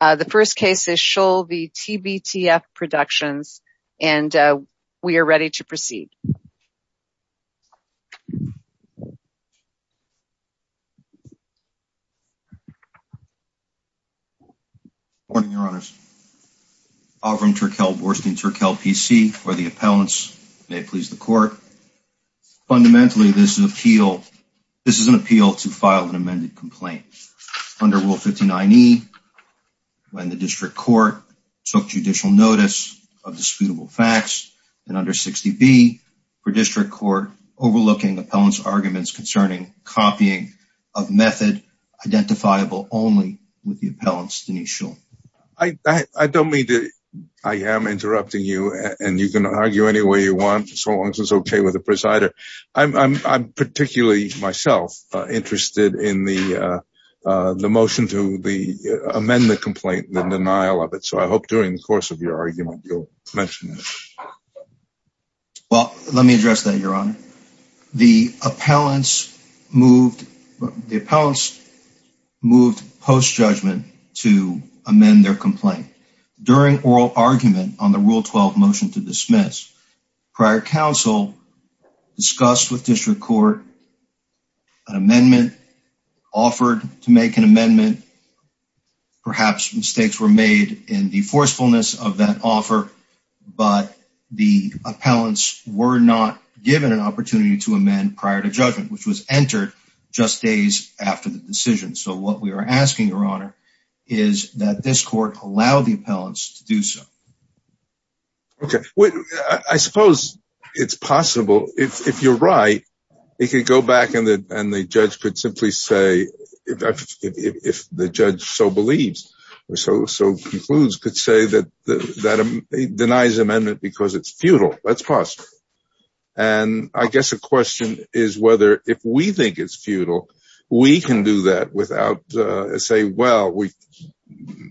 The first case is Shull v. TBTF Productions, and we are ready to proceed. Good morning, your honors. Alvin Turkel, Boorstin Turkel, PC, for the appellants. May it please the court. Fundamentally, this is an appeal to file an amended complaint. Under Rule 59E, when the district court took judicial notice of disputable facts, and under 60B, for district court overlooking appellants' arguments concerning copying of method identifiable only with the appellants, Denise Shull. I don't mean to, I am interrupting you, and you can argue any way you want, so long as it's okay with the presider. I'm particularly, myself, interested in the motion to amend the complaint and the denial of it, so I hope during the course of your argument you'll mention it. Well, let me address that, your honor. The appellants moved post-judgment to amend their complaint. During oral argument on the Rule 12 motion to dismiss, prior counsel discussed with an amendment, offered to make an amendment. Perhaps mistakes were made in the forcefulness of that offer, but the appellants were not given an opportunity to amend prior to judgment, which was entered just days after the decision. So what we are asking, your honor, is that this court allow the appellants to do so. Okay. I suppose it's possible, if you're right, it could go back and the judge could simply say, if the judge so believes, so concludes, could say that he denies the amendment because it's futile. That's possible. And I guess the question is whether, if we think it's futile, we can do that without saying, well,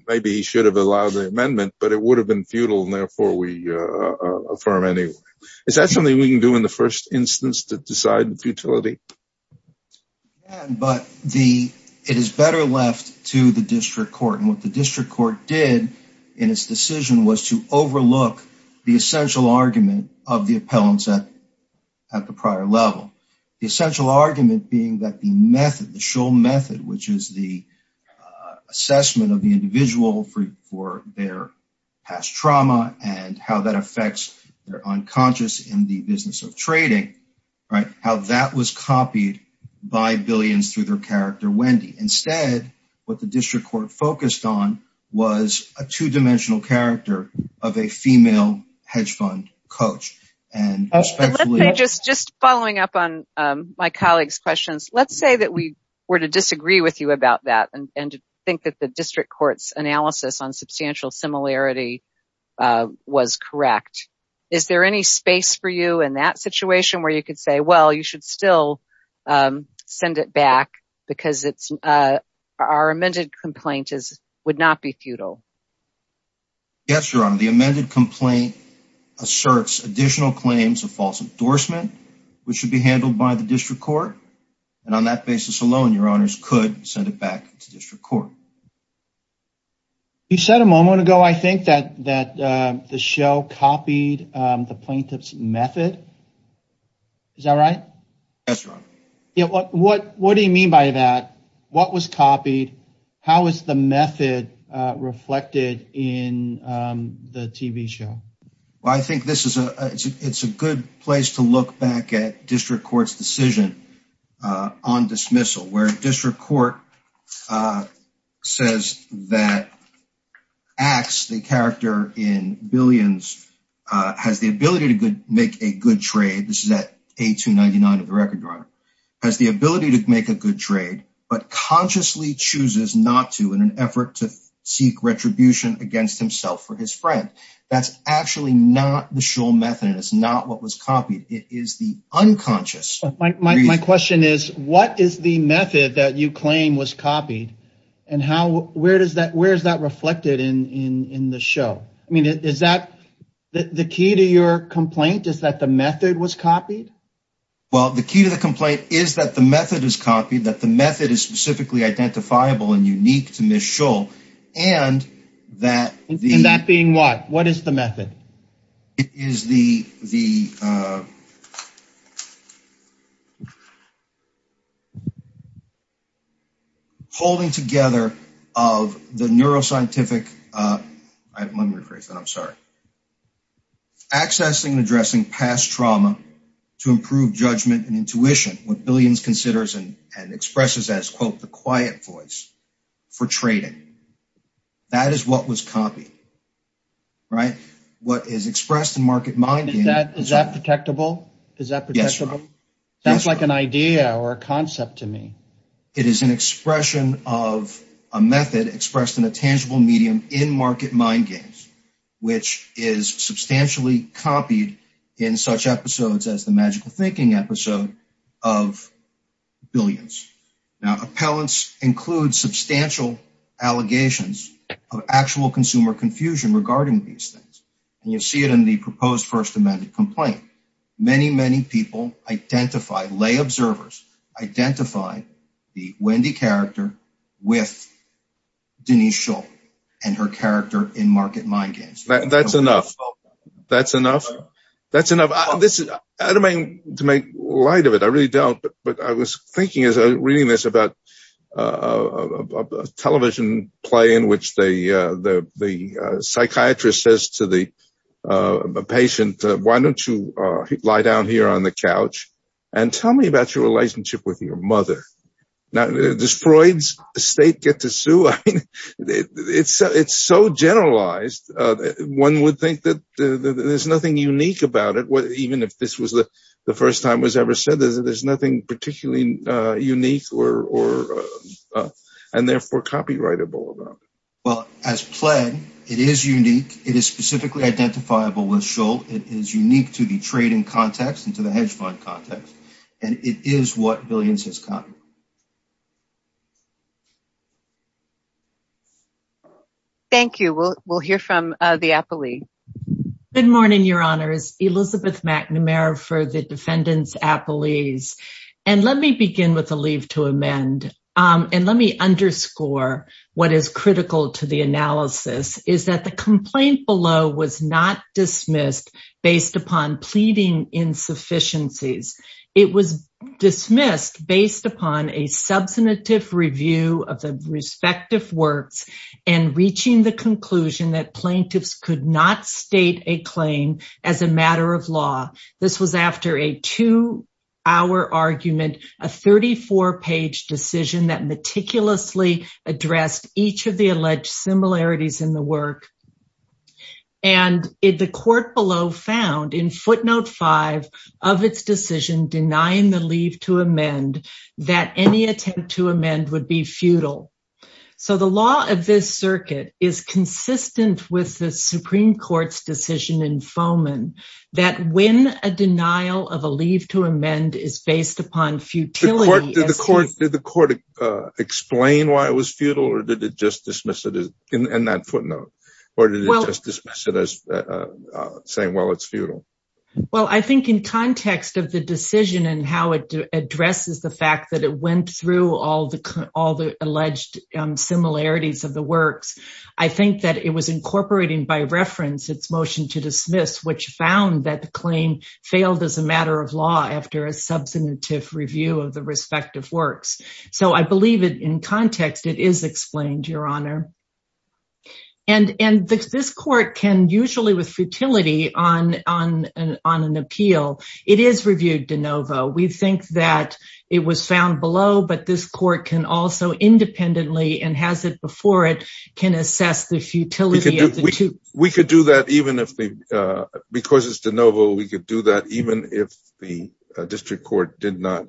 maybe he should have allowed the amendment, but it would have been futile and therefore we affirm anyway. Is that something we can do in the first instance to decide the futility? Yeah, but it is better left to the district court. And what the district court did in its decision was to overlook the essential argument of the appellants at the prior level. The essential argument being that the method, the Scholl method, which is the assessment of the individual for their past trauma and how that affects their unconscious in the business of trading, right? How that was copied by Billions through their character, Wendy. Instead, what the district court focused on was a two-dimensional character of a female hedge fund coach. Just following up on my colleague's questions, let's say that we were to disagree with you about that and think that the district court's analysis on substantial similarity was correct. Is there any space for you in that situation where you could say, well, you should still send it back because our amended complaint would not be futile? Yes, Your Honor. The amended complaint asserts additional claims of false endorsement, which should be handled by the district court. And on that basis alone, Your Honors could send it back to district court. You said a moment ago, I think that the show copied the plaintiff's method. Is that right? Yes, Your Honor. What do you mean by that? What was copied? How is the method reflected in the TV show? Well, I think it's a good place to look back at district court's decision on dismissal where district court says that Axe, the character in Billions, has the ability to make a good trade. This is at A299 of the record, Your Honor. Has the ability to make a good trade, but consciously chooses not to in an effort to seek retribution against himself for his friend. That's actually not the show method. It's not what was copied. It is the unconscious. My question is, what is the method that you claim was copied? And where is that reflected in the show? I mean, is that the key to your complaint, is that the method was copied? Well, the key to the complaint is that the method is copied, that the method is specifically identifiable and unique to Ms. Shull. And that being what? What is the method? It is the holding together of the neuroscientific, let me rephrase that, I'm sorry, accessing and addressing past trauma to improve judgment and intuition, what Billions considers and expresses as, quote, the quiet voice for trading. That is what was copied, right? What is expressed in market mind games. Is that protectable? Is that protectable? Yes, Your Honor. That's like an idea or a concept to me. It is an expression of a method expressed in a tangible medium in market mind games, which is substantially copied in such episodes as the Magical Thinking episode of Billions. Now, appellants include substantial allegations of actual consumer confusion regarding these things. And you see it in the proposed First Amendment complaint. Many, many people identify, lay observers identify the Wendy character with Denise Shull and her character in market mind games. That's enough. That's enough. That's enough. I don't mean to make light of it. I really don't. But I was thinking as I was reading this about a television play in which the psychiatrist says to the patient, why don't you lie down here on the couch and tell me about your relationship with your mother? Now, does Freud's estate get to sue? It's so generalized. One would think that there's nothing unique about it, even if this was the first time it was ever said that there's nothing particularly unique or and therefore copyrightable about it. Well, as pledged, it is unique. It is specifically identifiable with Shull. It is unique to the trading context and to the hedge fund context. And it is what Billions has copied. Thank you. We'll hear from the appellee. Good morning, Your Honors. Elizabeth McNamara for the defendants appellees. And let me begin with a leave to amend. And let me underscore what is critical to the analysis is that the complaint below was not dismissed based upon pleading insufficiencies. It was dismissed based upon a substantive review of the respective works and reaching the conclusion that a 34 page decision that meticulously addressed each of the alleged similarities in the work. And if the court below found in footnote five of its decision denying the leave to amend that any attempt to amend would be futile. So the law of this circuit is consistent with the Supreme Court's decision in Foman that when a denial of a leave to amend is based upon futility. Did the court explain why it was futile or did it just dismiss it in that footnote? Or did it just dismiss it as saying, well, it's futile? Well, I think in context of the decision and how it addresses the fact that it went through all the alleged similarities of the works, I think that it was incorporating by reference its motion to dismiss, which found that the claim failed as a matter of law after a substantive review of the respective works. So I believe it in context, it is explained, Your Honor. And this court can usually with futility on an appeal, it is reviewed de novo. We think that it was found below, but this court can also independently and has it before it can assess the futility of the two. We could do that even if, because it's de novo, we could do that even if the district court did not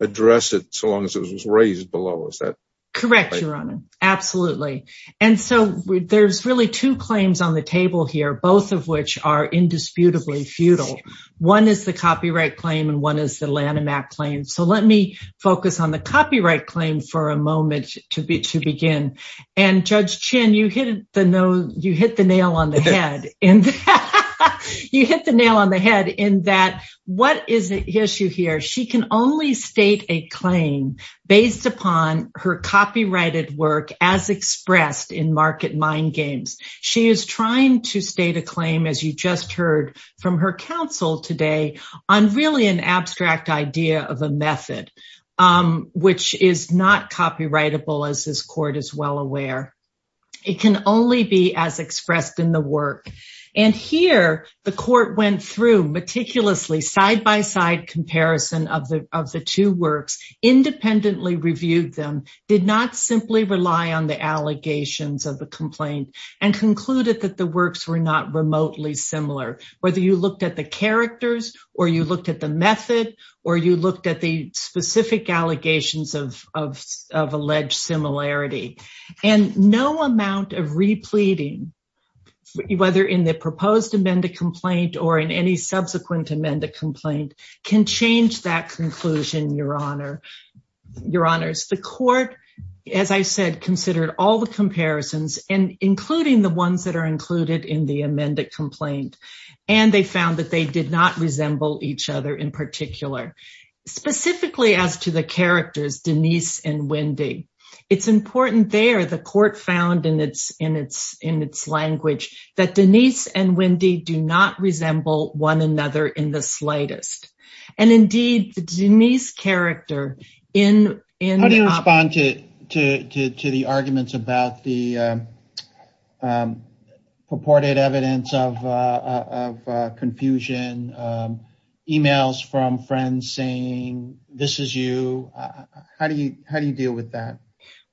address it so long as it was raised below. Is that right? Correct, Your Honor. Absolutely. And so there's really two claims on the table here, both of which are indisputably futile. One is the copyright claim and one is the Lanham Act claim. So let me you hit the nail on the head in that what is the issue here? She can only state a claim based upon her copyrighted work as expressed in market mind games. She is trying to state a claim, as you just heard from her counsel today, on really an abstract idea of a method, which is not copyrightable, as this court is well aware. It can only be as expressed in the work. And here the court went through meticulously side-by-side comparison of the two works, independently reviewed them, did not simply rely on the allegations of the complaint, and concluded that the works were not remotely similar. Whether you looked at the characters, or you looked at the method, or you looked at the specific allegations of alleged similarity. And no amount of repleting, whether in the proposed amended complaint or in any subsequent amended complaint, can change that conclusion, Your Honor. Your Honors, the court, as I said, considered all the comparisons, including the ones that are included in the amended complaint, and they found that they did not resemble each other in particular, specifically as to the characters, Denise and Wendy. It's important there, the court found in its language, that Denise and Wendy do not resemble one another in the slightest. And indeed, the Denise character in- How do you respond to the arguments about the evidence of confusion, emails from friends saying, this is you? How do you deal with that?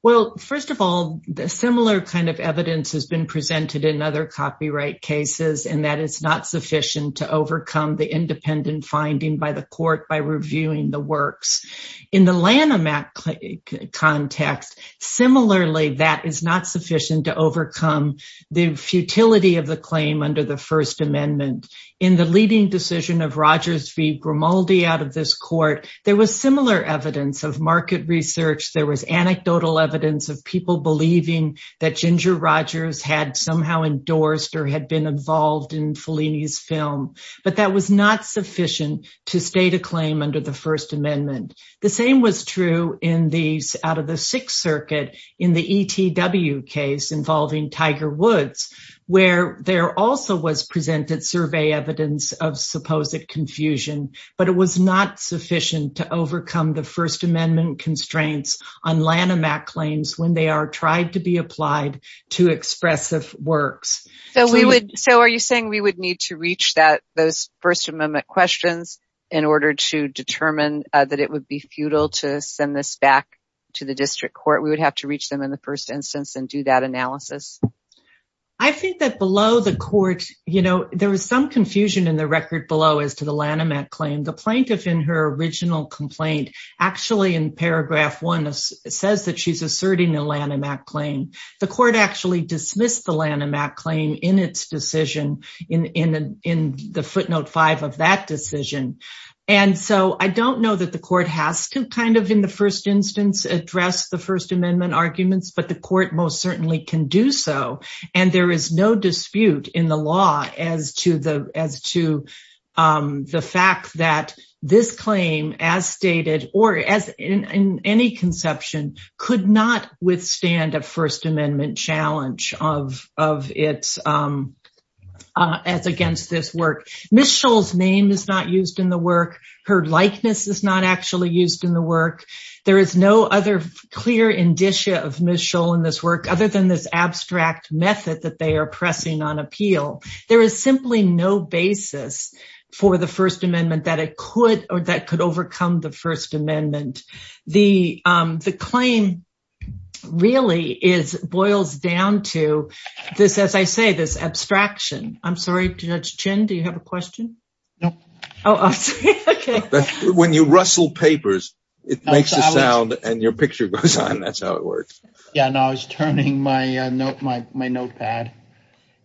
Well, first of all, the similar kind of evidence has been presented in other copyright cases, and that is not sufficient to overcome the independent finding by the court by reviewing the works. In the Lanham Act context, similarly, that is not sufficient to overcome the futility of the claim under the First Amendment. In the leading decision of Rogers v. Grimaldi out of this court, there was similar evidence of market research, there was anecdotal evidence of people believing that Ginger Rogers had somehow endorsed or had been involved in Fellini's film, but that was not sufficient to state a claim under the First Amendment. The same was true in these out of the Sixth Circuit in the ETW case involving Tiger Woods, where there also was presented survey evidence of supposed confusion, but it was not sufficient to overcome the First Amendment constraints on Lanham Act claims when they are tried to be applied to expressive works. So are you saying we would need to reach those First Amendment questions in order to determine that it would be futile to send this back to the district court? We would have to reach them in the first instance and do that analysis? I think that below the court, you know, there was some confusion in the record below as to the Lanham Act claim. The plaintiff in her original complaint, actually in paragraph one, says that she's asserting the Lanham Act claim. The court actually dismissed the Lanham Act claim in its decision in the footnote five of that decision. And so I don't know that the court has to kind of in the first instance address the First Amendment arguments, but the court most certainly can do so. And there is no dispute in the law as to the fact that this claim, as stated, or as in any conception, could not withstand a First Amendment challenge as against this work. Ms. Scholl's name is not used in the work. Her likeness is not actually used in the work. There is no other clear indicia of Ms. Scholl in this abstract method that they are pressing on appeal. There is simply no basis for the First Amendment that it could or that could overcome the First Amendment. The claim really is boils down to this, as I say, this abstraction. I'm sorry, Judge Chin, do you have a question? No. Oh, okay. When you rustle papers, it makes a sound and your picture goes on. That's how it works. Yeah, and I was turning my notepad.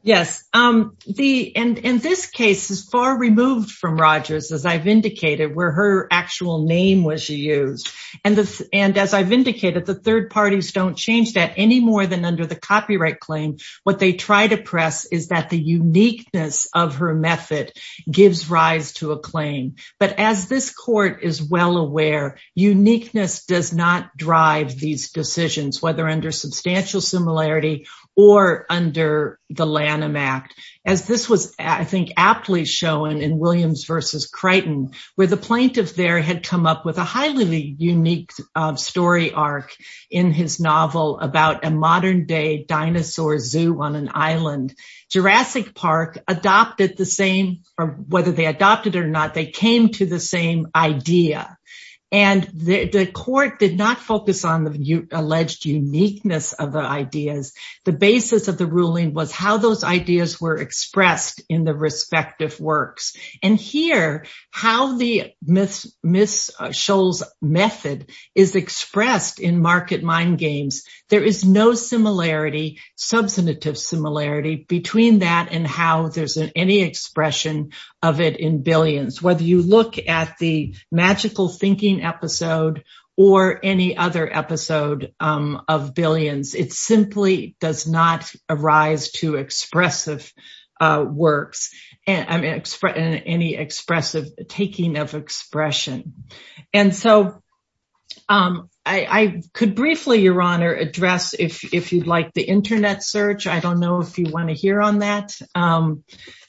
Yes. And this case is far removed from Rogers, as I've indicated, where her actual name was used. And as I've indicated, the third parties don't change that any more than under the copyright claim. What they try to press is that the uniqueness of her method gives rise to a claim. But as this court is well aware, uniqueness does not drive these decisions, whether under substantial similarity or under the Lanham Act. As this was, I think, aptly shown in Williams versus Crichton, where the plaintiff there had come up with a highly unique story arc in his novel about a modern day dinosaur zoo on an island. Jurassic Park adopted the same, or whether they adopted or not, they came to the same idea. And the court did not focus on the alleged uniqueness of the ideas. The basis of the ruling was how those ideas were expressed in the respective works. And here, how the Ms. Scholl's method is expressed in Market Mind Games, there is no similarity, substantive similarity, between that and how there's any expression of it in Billions. Whether you look at the Magical Thinking episode or any other episode of Billions, it simply does not arise to expressive works, any expressive taking of expression. And so I could briefly, Your Honor, address, if you'd like, the internet search. I don't know if you want to hear on that.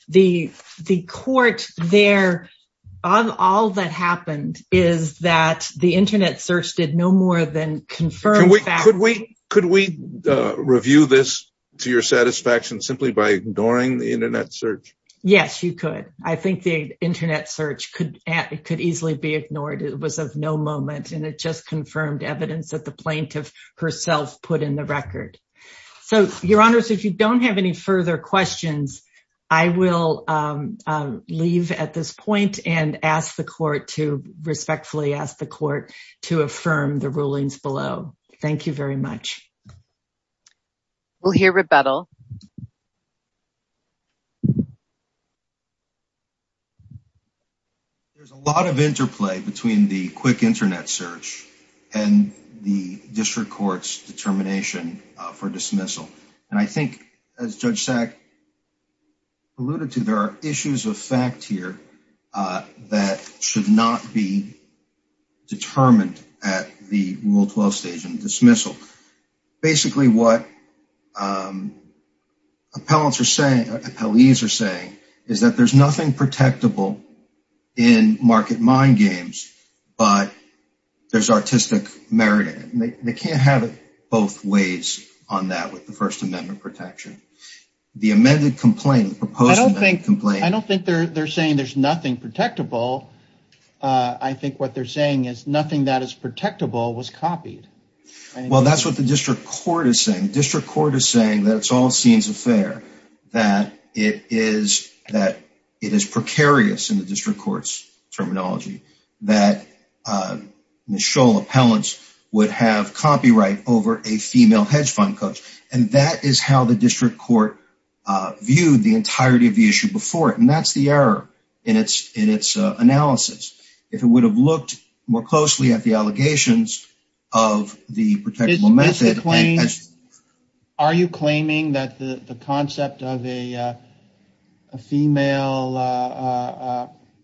The court there, all that happened is that the internet search did no more than confirm... Could we review this to your satisfaction simply by ignoring the internet search? Yes, you could. I think the internet search could easily be ignored. It was of no moment, and it just confirmed evidence that the plaintiff herself put in the record. So, Your Honor, if you don't have any further questions, I will leave at this point and respectfully ask the court to affirm the rulings below. Thank you very much. We'll hear rebuttal. There's a lot of interplay between the quick internet search and the district court's determination for dismissal. And I think, as Judge Sack alluded to, there are issues of fact here that should not be determined at the Rule 12 stage in dismissal. Basically, what appellees are saying is that there's nothing protectable in market mind games, but there's artistic merit in it. They can't have it both ways on that with the First Amendment protection. The amended complaint, the proposed amended complaint... I don't think they're saying there's nothing protectable. I think what they're saying is nothing that is protectable was copied. Well, that's what the district court is saying. District court is saying that it's all scenes of fare, that it is precarious in the district court's terminology, that Michelle Appellants would have copyright over a female hedge fund coach. And that is how the district court viewed the entirety of the issue before it. And that's the error in its analysis. If it would have looked more closely at the allegations of the protectable method... Are you claiming that the concept of a female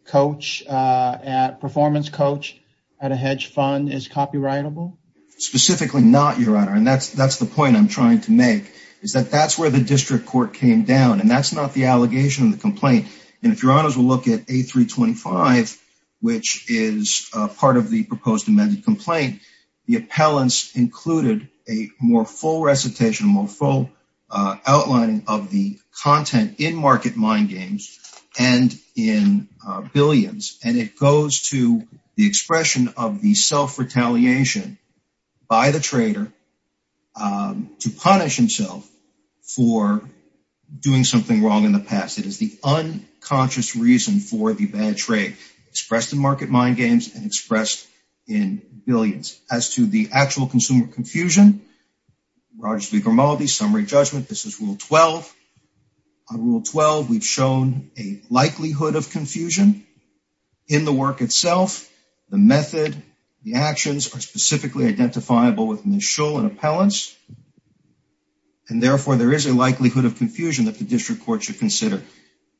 performance coach at a hedge fund is copyrightable? Specifically not, Your Honor. And that's the point I'm trying to make, is that that's where the district court came down. And that's not the allegation of the complaint. And if Your Honors will look at A325, which is part of the proposed amended complaint, the appellants included a more full recitation, more full outlining of the content in Market Mind Games and in Billions. And it goes to the expression of the self-retaliation by the trader to punish himself for doing something wrong in the past. It is the unconscious reason for the bad trade expressed in Market Mind Games and expressed in Billions. As to the actual consumer confusion, Rogers v. Grimaldi, summary judgment, this is Rule 12. On Rule 12, we've shown a likelihood of confusion in the work itself, the method, the actions are specifically identifiable with Michelle and Appellants. And therefore, there is a likelihood of confusion that the district court should consider.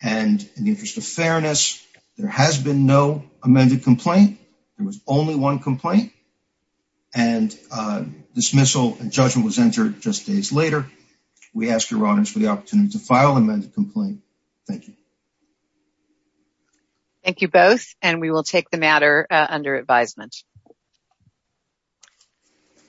And in the interest of fairness, there has been no amended complaint. There was only one complaint. And dismissal and judgment was entered just days later. We ask Your Honors for the opportunity to file amended complaint. Thank you. Thank you both. And we will take the matter under advisement.